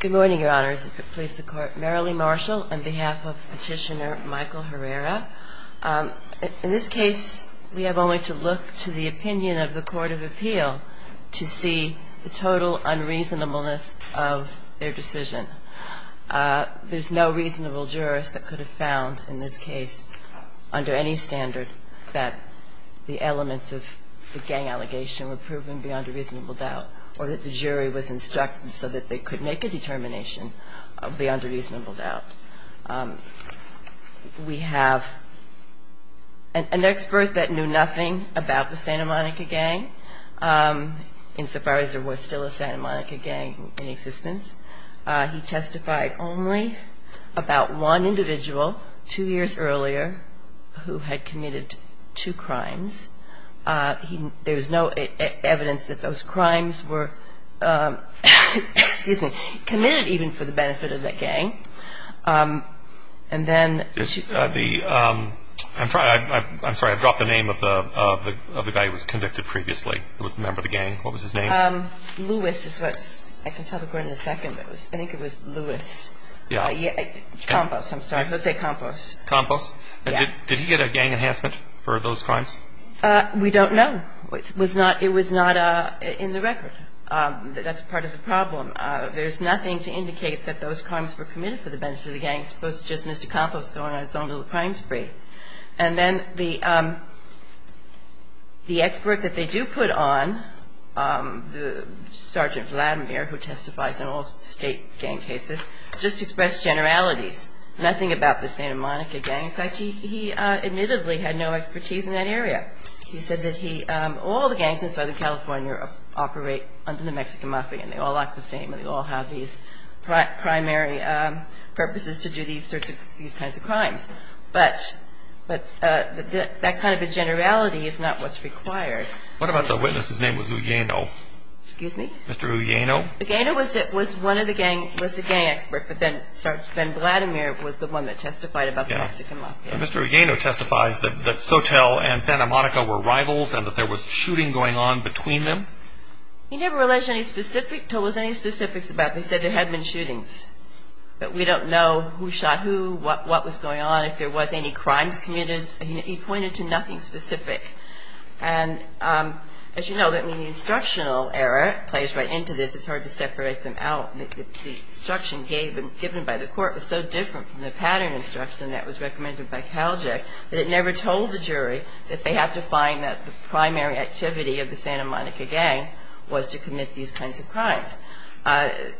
Good morning, Your Honors, and please support Merrilee Marshall on behalf of Petitioner Michael Herrera. In this case, we have only to look to the opinion of the Court of Appeal to see the total unreasonableness of their decision. There's no reasonable jurist that could have found in this case, under any standard, that the elements of the gang allegation were proven beyond a reasonable doubt, or that the jury was instructed so that they could make a determination beyond a reasonable doubt. We have an expert that knew nothing about the Santa Monica Gang. Insofar as there was still a Santa Monica Gang in existence, he testified only about one individual two years earlier who had committed two crimes. There's no evidence that those crimes were committed even for the benefit of that gang. I'm sorry, I've dropped the name of the guy who was convicted previously who was a member of the gang. What was his name? Lewis is what I can tell the court in a second. I think it was Lewis. Yeah. Campos, I'm sorry. Let's say Campos. Campos? Yeah. Did he get a gang enhancement for those crimes? We don't know. It was not in the record. That's part of the problem. There's nothing to indicate that those crimes were committed for the benefit of the gang, as opposed to just Mr. Campos going on his own little crime spree. And then the expert that they do put on, Sergeant Vladimir, who testifies in all state gang cases, just expressed generalities, nothing about the Santa Monica Gang. In fact, he admittedly had no expertise in that area. He said that all the gangs in Southern California operate under the Mexican Mafia, and they all act the same, and they all have these primary purposes to do these kinds of crimes. But that kind of a generality is not what's required. What about the witness whose name was Ullano? Excuse me? Mr. Ullano. Ullano was the gang expert, but then Sergeant Vladimir was the one that testified about the Mexican Mafia. Yeah. Mr. Ullano testifies that Sotel and Santa Monica were rivals and that there was shooting going on between them. He never told us any specifics about it. He said there had been shootings, but we don't know who shot who, what was going on, if there was any crimes committed. He pointed to nothing specific. And as you know, the instructional error plays right into this. It's hard to separate them out. The instruction given by the court was so different from the pattern instruction that was recommended by Kaljic that it never told the jury that they have to find that the primary activity of the Santa Monica Gang was to commit these kinds of crimes. The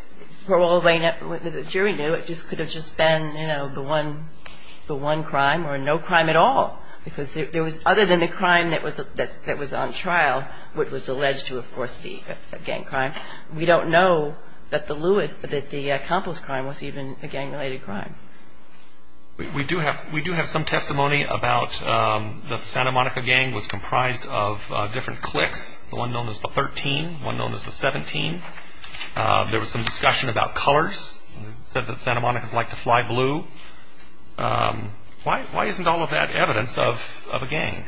jury knew it could have just been, you know, the one crime or no crime at all because there was, other than the crime that was on trial, what was alleged to, of course, be a gang crime. We don't know that the accomplice crime was even a gang-related crime. We do have some testimony about the Santa Monica Gang was comprised of different cliques, the one known as the 13, the one known as the 17. There was some discussion about colors, said that Santa Monicas liked to fly blue. Why isn't all of that evidence of a gang?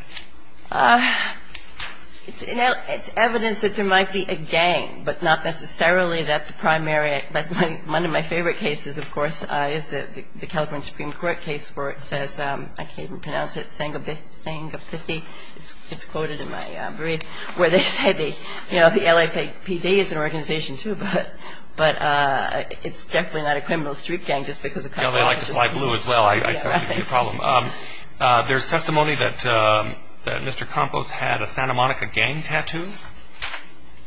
It's evidence that there might be a gang, but not necessarily that the primary. One of my favorite cases, of course, is the California Supreme Court case where it says, I can't even pronounce it, Sangapithi, it's quoted in my brief, where they say, you know, the LAPD is an organization too, but it's definitely not a criminal street gang just because a couple of officers fly blue as well, I'd say that would be a problem. There's testimony that Mr. Campos had a Santa Monica Gang tattoo.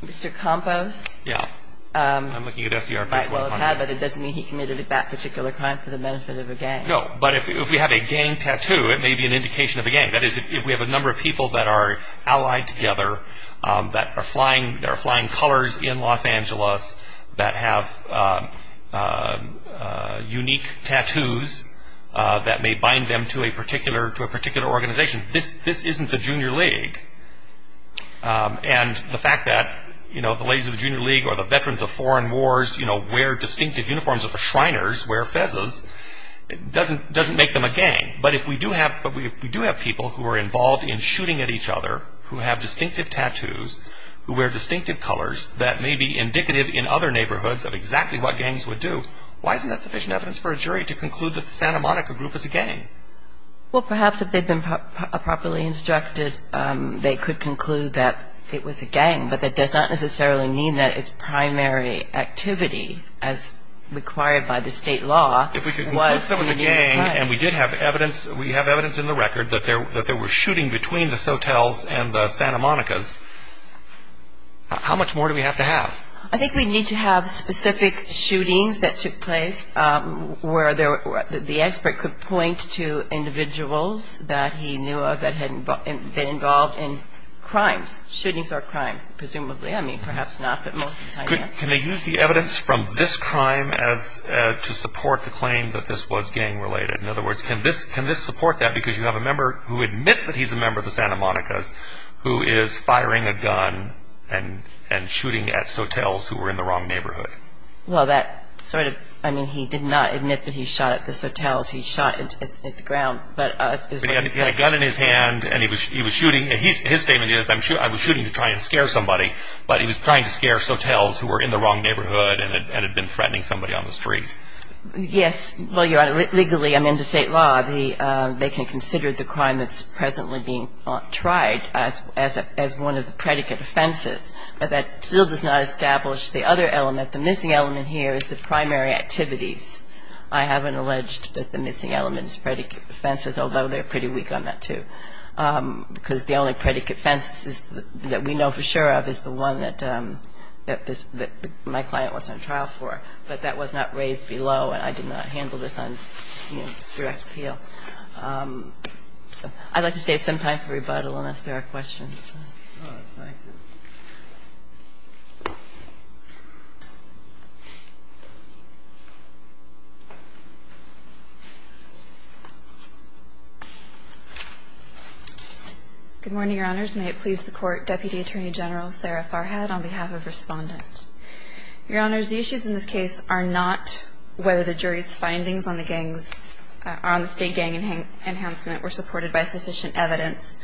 Mr. Campos? Yeah. I'm looking at SDR page 120. Might well have had, but it doesn't mean he committed that particular crime for the benefit of a gang. No, but if we have a gang tattoo, it may be an indication of a gang. That is, if we have a number of people that are allied together, that are flying colors in Los Angeles, that have unique tattoos that may bind them to a particular organization, this isn't the Junior League. And the fact that the ladies of the Junior League or the veterans of foreign wars wear distinctive uniforms of the Shriners, wear fezes, doesn't make them a gang. But if we do have people who are involved in shooting at each other, who have distinctive tattoos, who wear distinctive colors, that may be indicative in other neighborhoods of exactly what gangs would do, why isn't that sufficient evidence for a jury to conclude that the Santa Monica Group is a gang? Well, perhaps if they'd been properly instructed, they could conclude that it was a gang, but that does not necessarily mean that its primary activity, as required by the state law, was to use guns. And we did have evidence. We have evidence in the record that there were shootings between the Sotels and the Santa Monicas. How much more do we have to have? I think we need to have specific shootings that took place where the expert could point to individuals that he knew of that had been involved in crimes. Shootings are crimes, presumably. I mean, perhaps not, but most of the time, yes. Can they use the evidence from this crime to support the claim that this was gang-related? In other words, can this support that? Because you have a member who admits that he's a member of the Santa Monicas who is firing a gun and shooting at Sotels who were in the wrong neighborhood. Well, that sort of ñ I mean, he did not admit that he shot at the Sotels. He shot at the ground. But he had a gun in his hand, and he was shooting. His statement is, I was shooting to try and scare somebody, but he was trying to scare Sotels who were in the wrong neighborhood and had been threatening somebody on the street. Yes. Well, Your Honor, legally, under state law, they can consider the crime that's presently being tried as one of the predicate offenses, but that still does not establish the other element. The missing element here is the primary activities. I haven't alleged that the missing element is predicate offenses, although they're pretty weak on that, too, because the only predicate offense that we know for sure of is the one that my client was on trial for. But that was not raised below, and I did not handle this on direct appeal. So I'd like to save some time for rebuttal unless there are questions. Good morning, Your Honors. May it please the Court. Deputy Attorney General Sarah Farhad on behalf of Respondent. Your Honors, the issues in this case are not whether the jury's findings on the state gang enhancement were supported by sufficient evidence,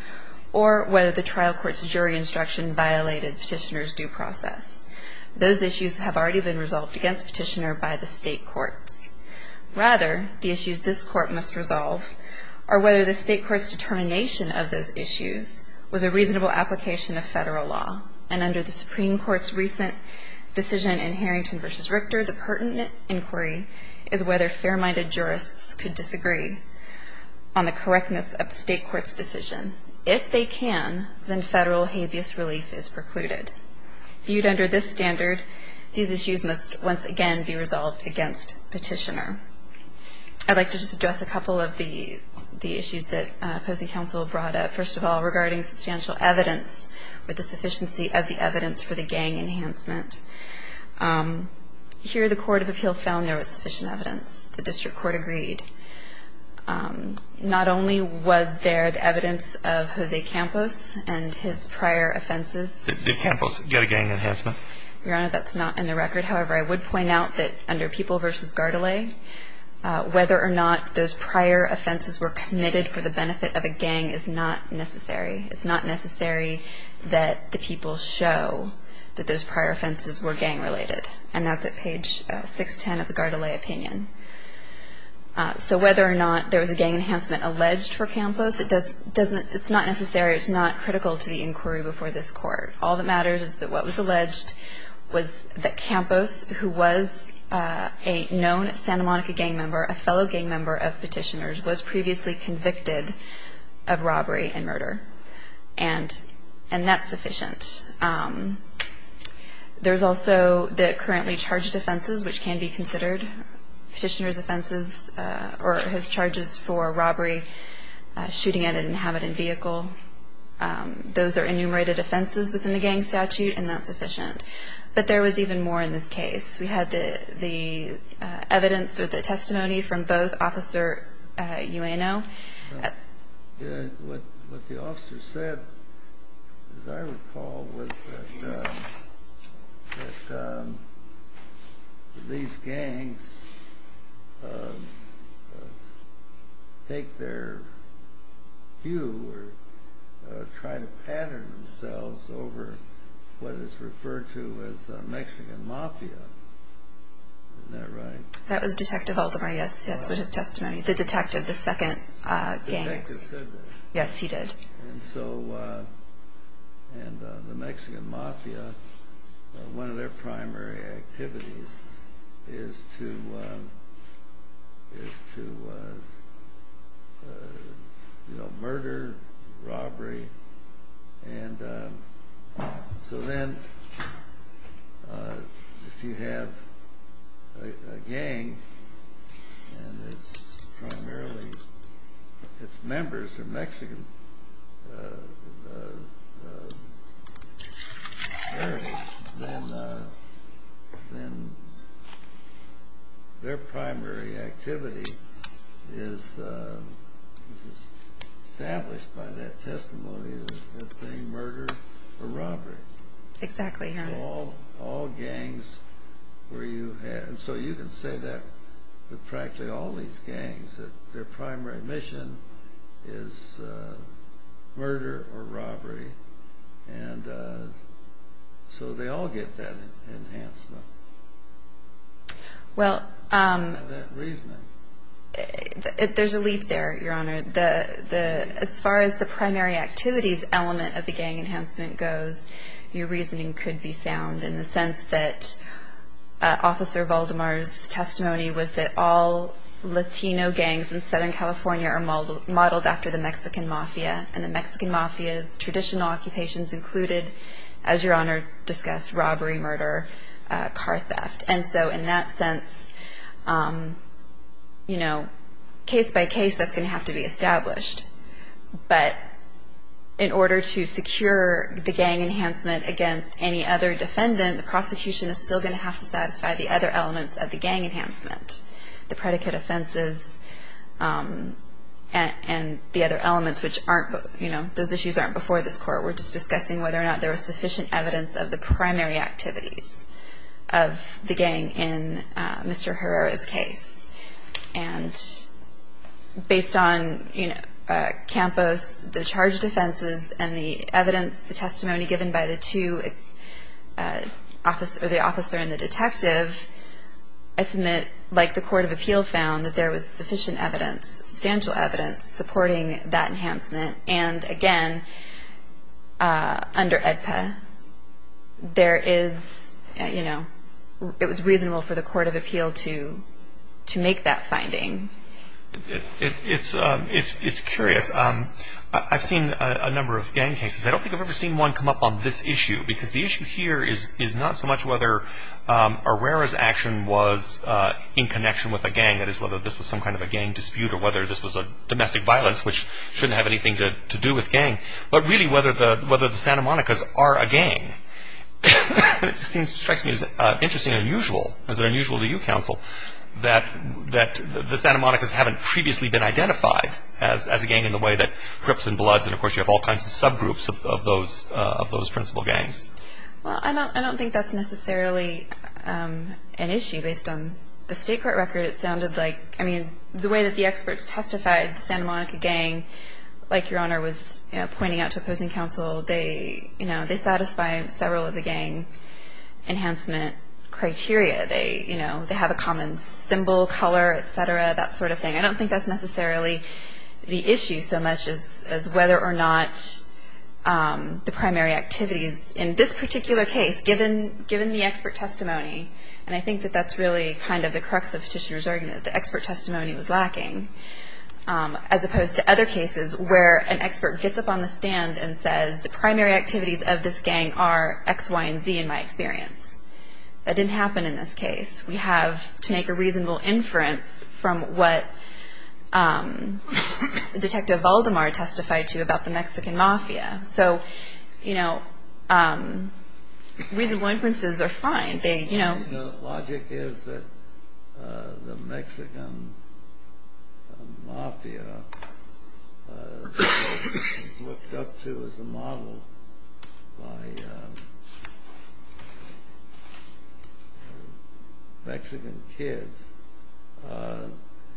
or whether the trial was successful, violated Petitioner's due process. Those issues have already been resolved against Petitioner by the state courts. Rather, the issues this Court must resolve are whether the state court's determination of those issues was a reasonable application of federal law, and under the Supreme Court's recent decision in Harrington v. Richter, the pertinent inquiry is whether fair-minded jurists could disagree on the correctness of the state court's decision. If they can, then federal habeas relief is precluded. Viewed under this standard, these issues must once again be resolved against Petitioner. I'd like to just address a couple of the issues that opposing counsel brought up. First of all, regarding substantial evidence with the sufficiency of the evidence for the gang enhancement. Here, the Court of Appeal found there was sufficient evidence. The district court agreed. Not only was there the evidence of Jose Campos and his prior offenses. Did Campos get a gang enhancement? Your Honor, that's not in the record. However, I would point out that under People v. Gardelais, whether or not those prior offenses were committed for the benefit of a gang is not necessary. It's not necessary that the people show that those prior offenses were gang-related. And that's at page 610 of the Gardelais opinion. So whether or not there was a gang enhancement alleged for Campos, it's not necessary. It's not critical to the inquiry before this Court. All that matters is that what was alleged was that Campos, who was a known Santa Monica gang member, a fellow gang member of Petitioner's, was previously convicted of robbery and murder. And that's sufficient. There's also the currently charged offenses, which can be considered Petitioner's offenses or his charges for robbery, shooting at an inhabited vehicle. Those are enumerated offenses within the gang statute, and that's sufficient. But there was even more in this case. We had the evidence or the testimony from both Officer Ueno. What the officer said, as I recall, was that these gangs take their cue or try to pattern themselves over what is referred to as Mexican mafia. Isn't that right? That was Detective Haldemar, yes. That's what his testimony, the detective, the second gang. The detective said that. Yes, he did. And so the Mexican mafia, one of their primary activities is to murder, robbery. And so then if you have a gang and it's primarily its members are Mexican, then their primary activity is established by that testimony as being murder or robbery. Exactly, yes. All gangs where you have, and so you can say that with practically all these gangs, that their primary mission is murder or robbery. And so they all get that enhancement. Well, there's a leap there, Your Honor. As far as the primary activities element of the gang enhancement goes, your reasoning could be sound in the sense that Officer Valdemar's testimony was that all Latino gangs in Southern California are modeled after the Mexican mafia, and the Mexican mafia's traditional occupations included, as Your Honor discussed, robbery, murder, car theft. And so in that sense, case by case, that's going to have to be established. But in order to secure the gang enhancement against any other defendant, the prosecution is still going to have to satisfy the other elements of the gang enhancement, the predicate offenses and the other elements which aren't, you know, those issues aren't before this Court. We're just discussing whether or not there was sufficient evidence of the primary activities of the gang in Mr. Herrera's case. And based on, you know, Campos, the charged offenses and the evidence, the testimony given by the two officers, the officer and the detective, I submit like the Court of Appeal found that there was sufficient evidence, substantial evidence supporting that enhancement. And, again, under AEDPA, there is, you know, it was reasonable for the Court of Appeal to make that finding. It's curious. I've seen a number of gang cases. I don't think I've ever seen one come up on this issue, because the issue here is not so much whether Herrera's action was in connection with a gang, that is whether this was some kind of a gang dispute or whether this was a domestic violence which shouldn't have anything to do with gang, but really whether the Santa Monica's are a gang. It strikes me as interesting and unusual, as unusual to you, Counsel, that the Santa Monica's haven't previously been identified as a gang in the way that Crips and Bloods, and, of course, you have all kinds of subgroups of those principal gangs. Well, I don't think that's necessarily an issue based on the state court record. It sounded like, I mean, the way that the experts testified, the Santa Monica gang, like Your Honor was pointing out to opposing counsel, they satisfy several of the gang enhancement criteria. They have a common symbol, color, et cetera, that sort of thing. I don't think that's necessarily the issue so much as whether or not the primary activities, in this particular case, given the expert testimony, and I think that that's really kind of the crux of Petitioner's argument, the expert testimony was lacking, as opposed to other cases where an expert gets up on the stand and says the primary activities of this gang are X, Y, and Z in my experience. That didn't happen in this case. We have to make a reasonable inference from what Detective Valdemar testified to about the Mexican Mafia. So, you know, reasonable inferences are fine. The logic is that the Mexican Mafia is looked up to as a model by Mexican kids.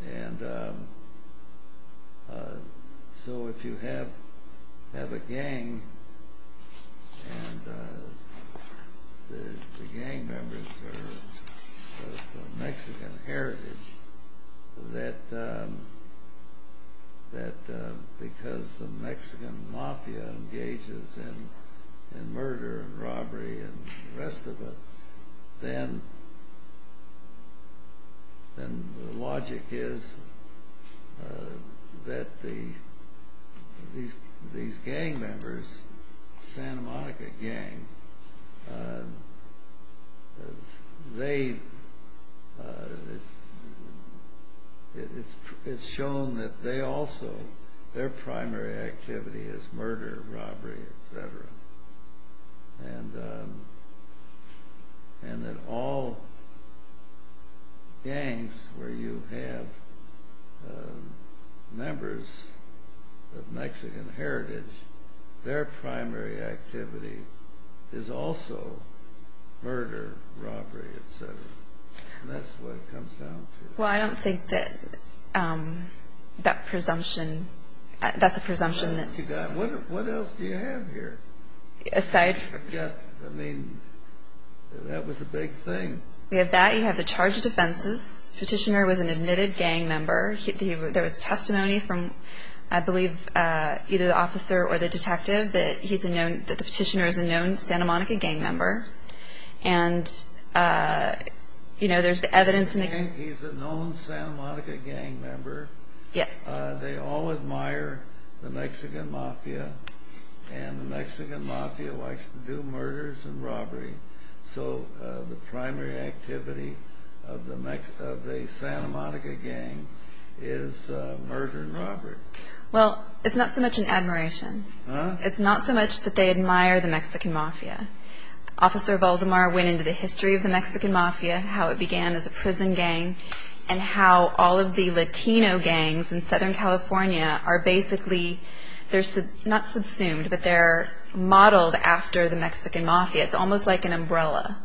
And so if you have a gang, and the gang members are of Mexican heritage, that because the Mexican Mafia engages in murder and robbery and the rest of it, then the logic is that these gang members, Santa Monica Gang, it's shown that they also, their primary activity is murder, robbery, et cetera. And that all gangs where you have members of Mexican heritage, their primary activity is also murder, robbery, et cetera. And that's what it comes down to. Well, I don't think that that presumption, that's a presumption that... What else do you have here? Aside from... I mean, that was a big thing. We have that. You have the charge of defenses. Petitioner was an admitted gang member. There was testimony from, I believe, either the officer or the detective that the petitioner is a known Santa Monica Gang member. And, you know, there's the evidence... He's a known Santa Monica Gang member. Yes. They all admire the Mexican Mafia, and the Mexican Mafia likes to do murders and robbery. So the primary activity of the Santa Monica Gang is murder and robbery. Well, it's not so much an admiration. Huh? It's not so much that they admire the Mexican Mafia. Officer Voldemar went into the history of the Mexican Mafia, how it began as a prison gang, and how all of the Latino gangs in Southern California are basically... They're not subsumed, but they're modeled after the Mexican Mafia. It's almost like an umbrella,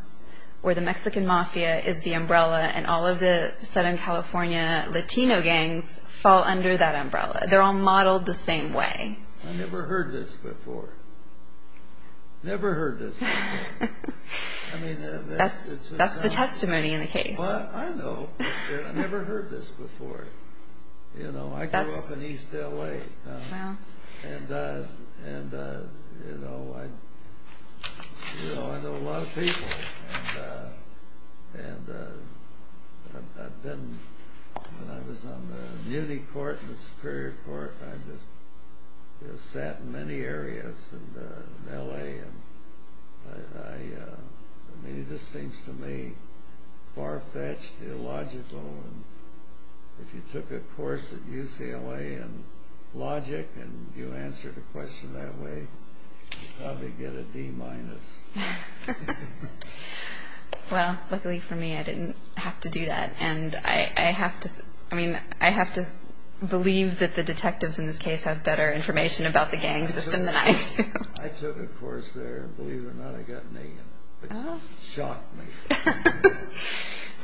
where the Mexican Mafia is the umbrella, and all of the Southern California Latino gangs fall under that umbrella. They're all modeled the same way. I never heard this before. Never heard this before. I mean, that's... That's the testimony in the case. Well, I know. I never heard this before. You know, I grew up in East L.A. Wow. And, you know, I know a lot of people. And I've been, when I was on the community court and the Superior Court, I just sat in many areas in L.A. I mean, this seems to me far-fetched, illogical. If you took a course at UCLA in logic and you answered a question that way, you'd probably get a D-minus. Well, luckily for me, I didn't have to do that. And I have to believe that the detectives in this case have better information about the gang system than I do. I took a course there, and believe it or not, I got an A in it. It shocked me.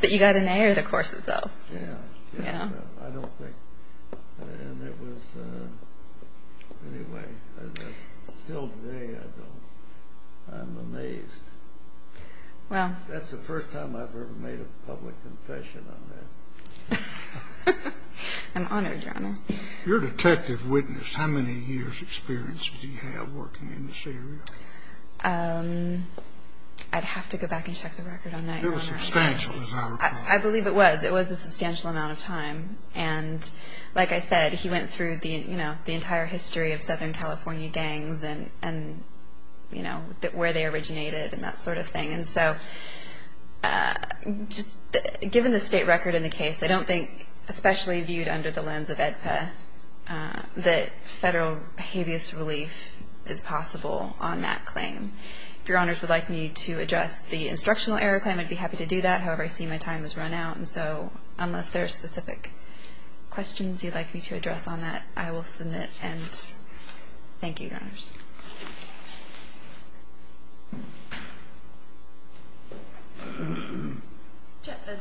But you got an A in the courses, though. Yeah. I don't think. And it was, anyway, still today I don't. I'm amazed. That's the first time I've ever made a public confession on that. I'm honored, Your Honor. Your detective witnessed how many years' experience did he have working in this area? I'd have to go back and check the record on that. It was substantial, as I recall. I believe it was. It was a substantial amount of time. And like I said, he went through the entire history of Southern California gangs and where they originated and that sort of thing. And so just given the state record in the case, I don't think, especially viewed under the lens of AEDPA, that federal habeas relief is possible on that claim. If Your Honors would like me to address the instructional error claim, I'd be happy to do that. However, I see my time has run out, and so unless there are specific questions you'd like me to address on that, I will submit. And thank you, Your Honors.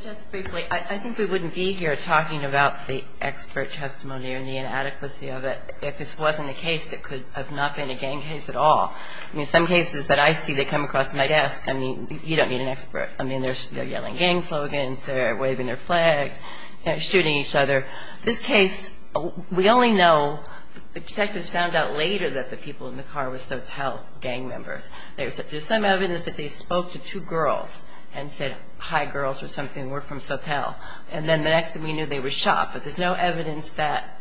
Just briefly, I think we wouldn't be here talking about the expert testimony and the inadequacy of it if this wasn't a case that could have not been a gang case at all. I mean, some cases that I see that come across my desk, I mean, you don't need an expert. I mean, they're yelling gang slogans. They're waving their flags, shooting each other. This case, we only know the detectives found out later that the people in the case in the car were Sotel gang members. There's some evidence that they spoke to two girls and said, hi, girls, or something, we're from Sotel. And then the next thing we knew, they were shot. But there's no evidence that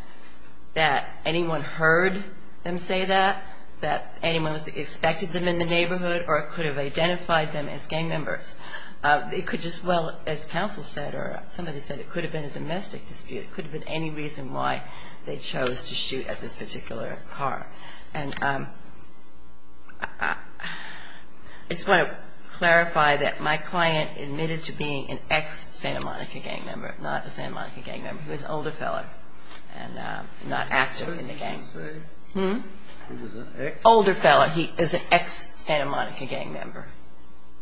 anyone heard them say that, that anyone expected them in the neighborhood, or it could have identified them as gang members. It could just well, as counsel said, or somebody said, it could have been a domestic dispute. It could have been any reason why they chose to shoot at this particular car. And I just want to clarify that my client admitted to being an ex-Santa Monica gang member, not a Santa Monica gang member. He was an older fellow and not active in the gang. What did he say? Hm? He was an ex? Older fellow. He is an ex-Santa Monica gang member.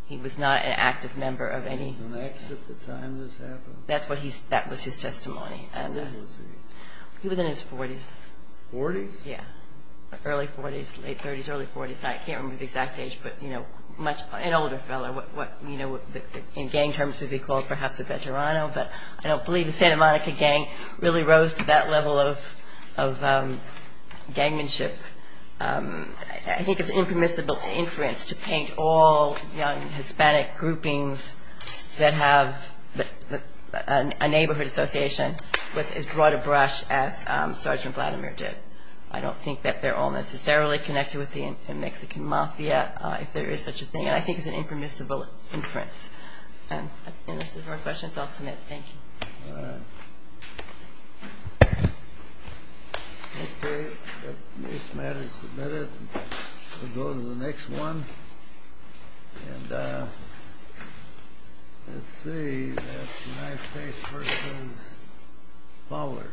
He was not an active member of any. He was an ex at the time this happened? That was his testimony. What age was he? He was in his 40s. 40s? Yeah. Early 40s, late 30s, early 40s. I can't remember the exact age, but an older fellow, what in gang terms would be called perhaps a veterano. But I don't believe the Santa Monica gang really rose to that level of gangmanship. I think it's impermissible inference to paint all young Hispanic groupings that have a neighborhood association with as broad a brush as Sergeant Vladimir did. I don't think that they're all necessarily connected with the Mexican Mafia, if there is such a thing. And I think it's an impermissible inference. And unless there's more questions, I'll submit. Thank you. All right. Okay. This matter is submitted. We'll go to the next one. And let's see. That's the United States versus Fowler.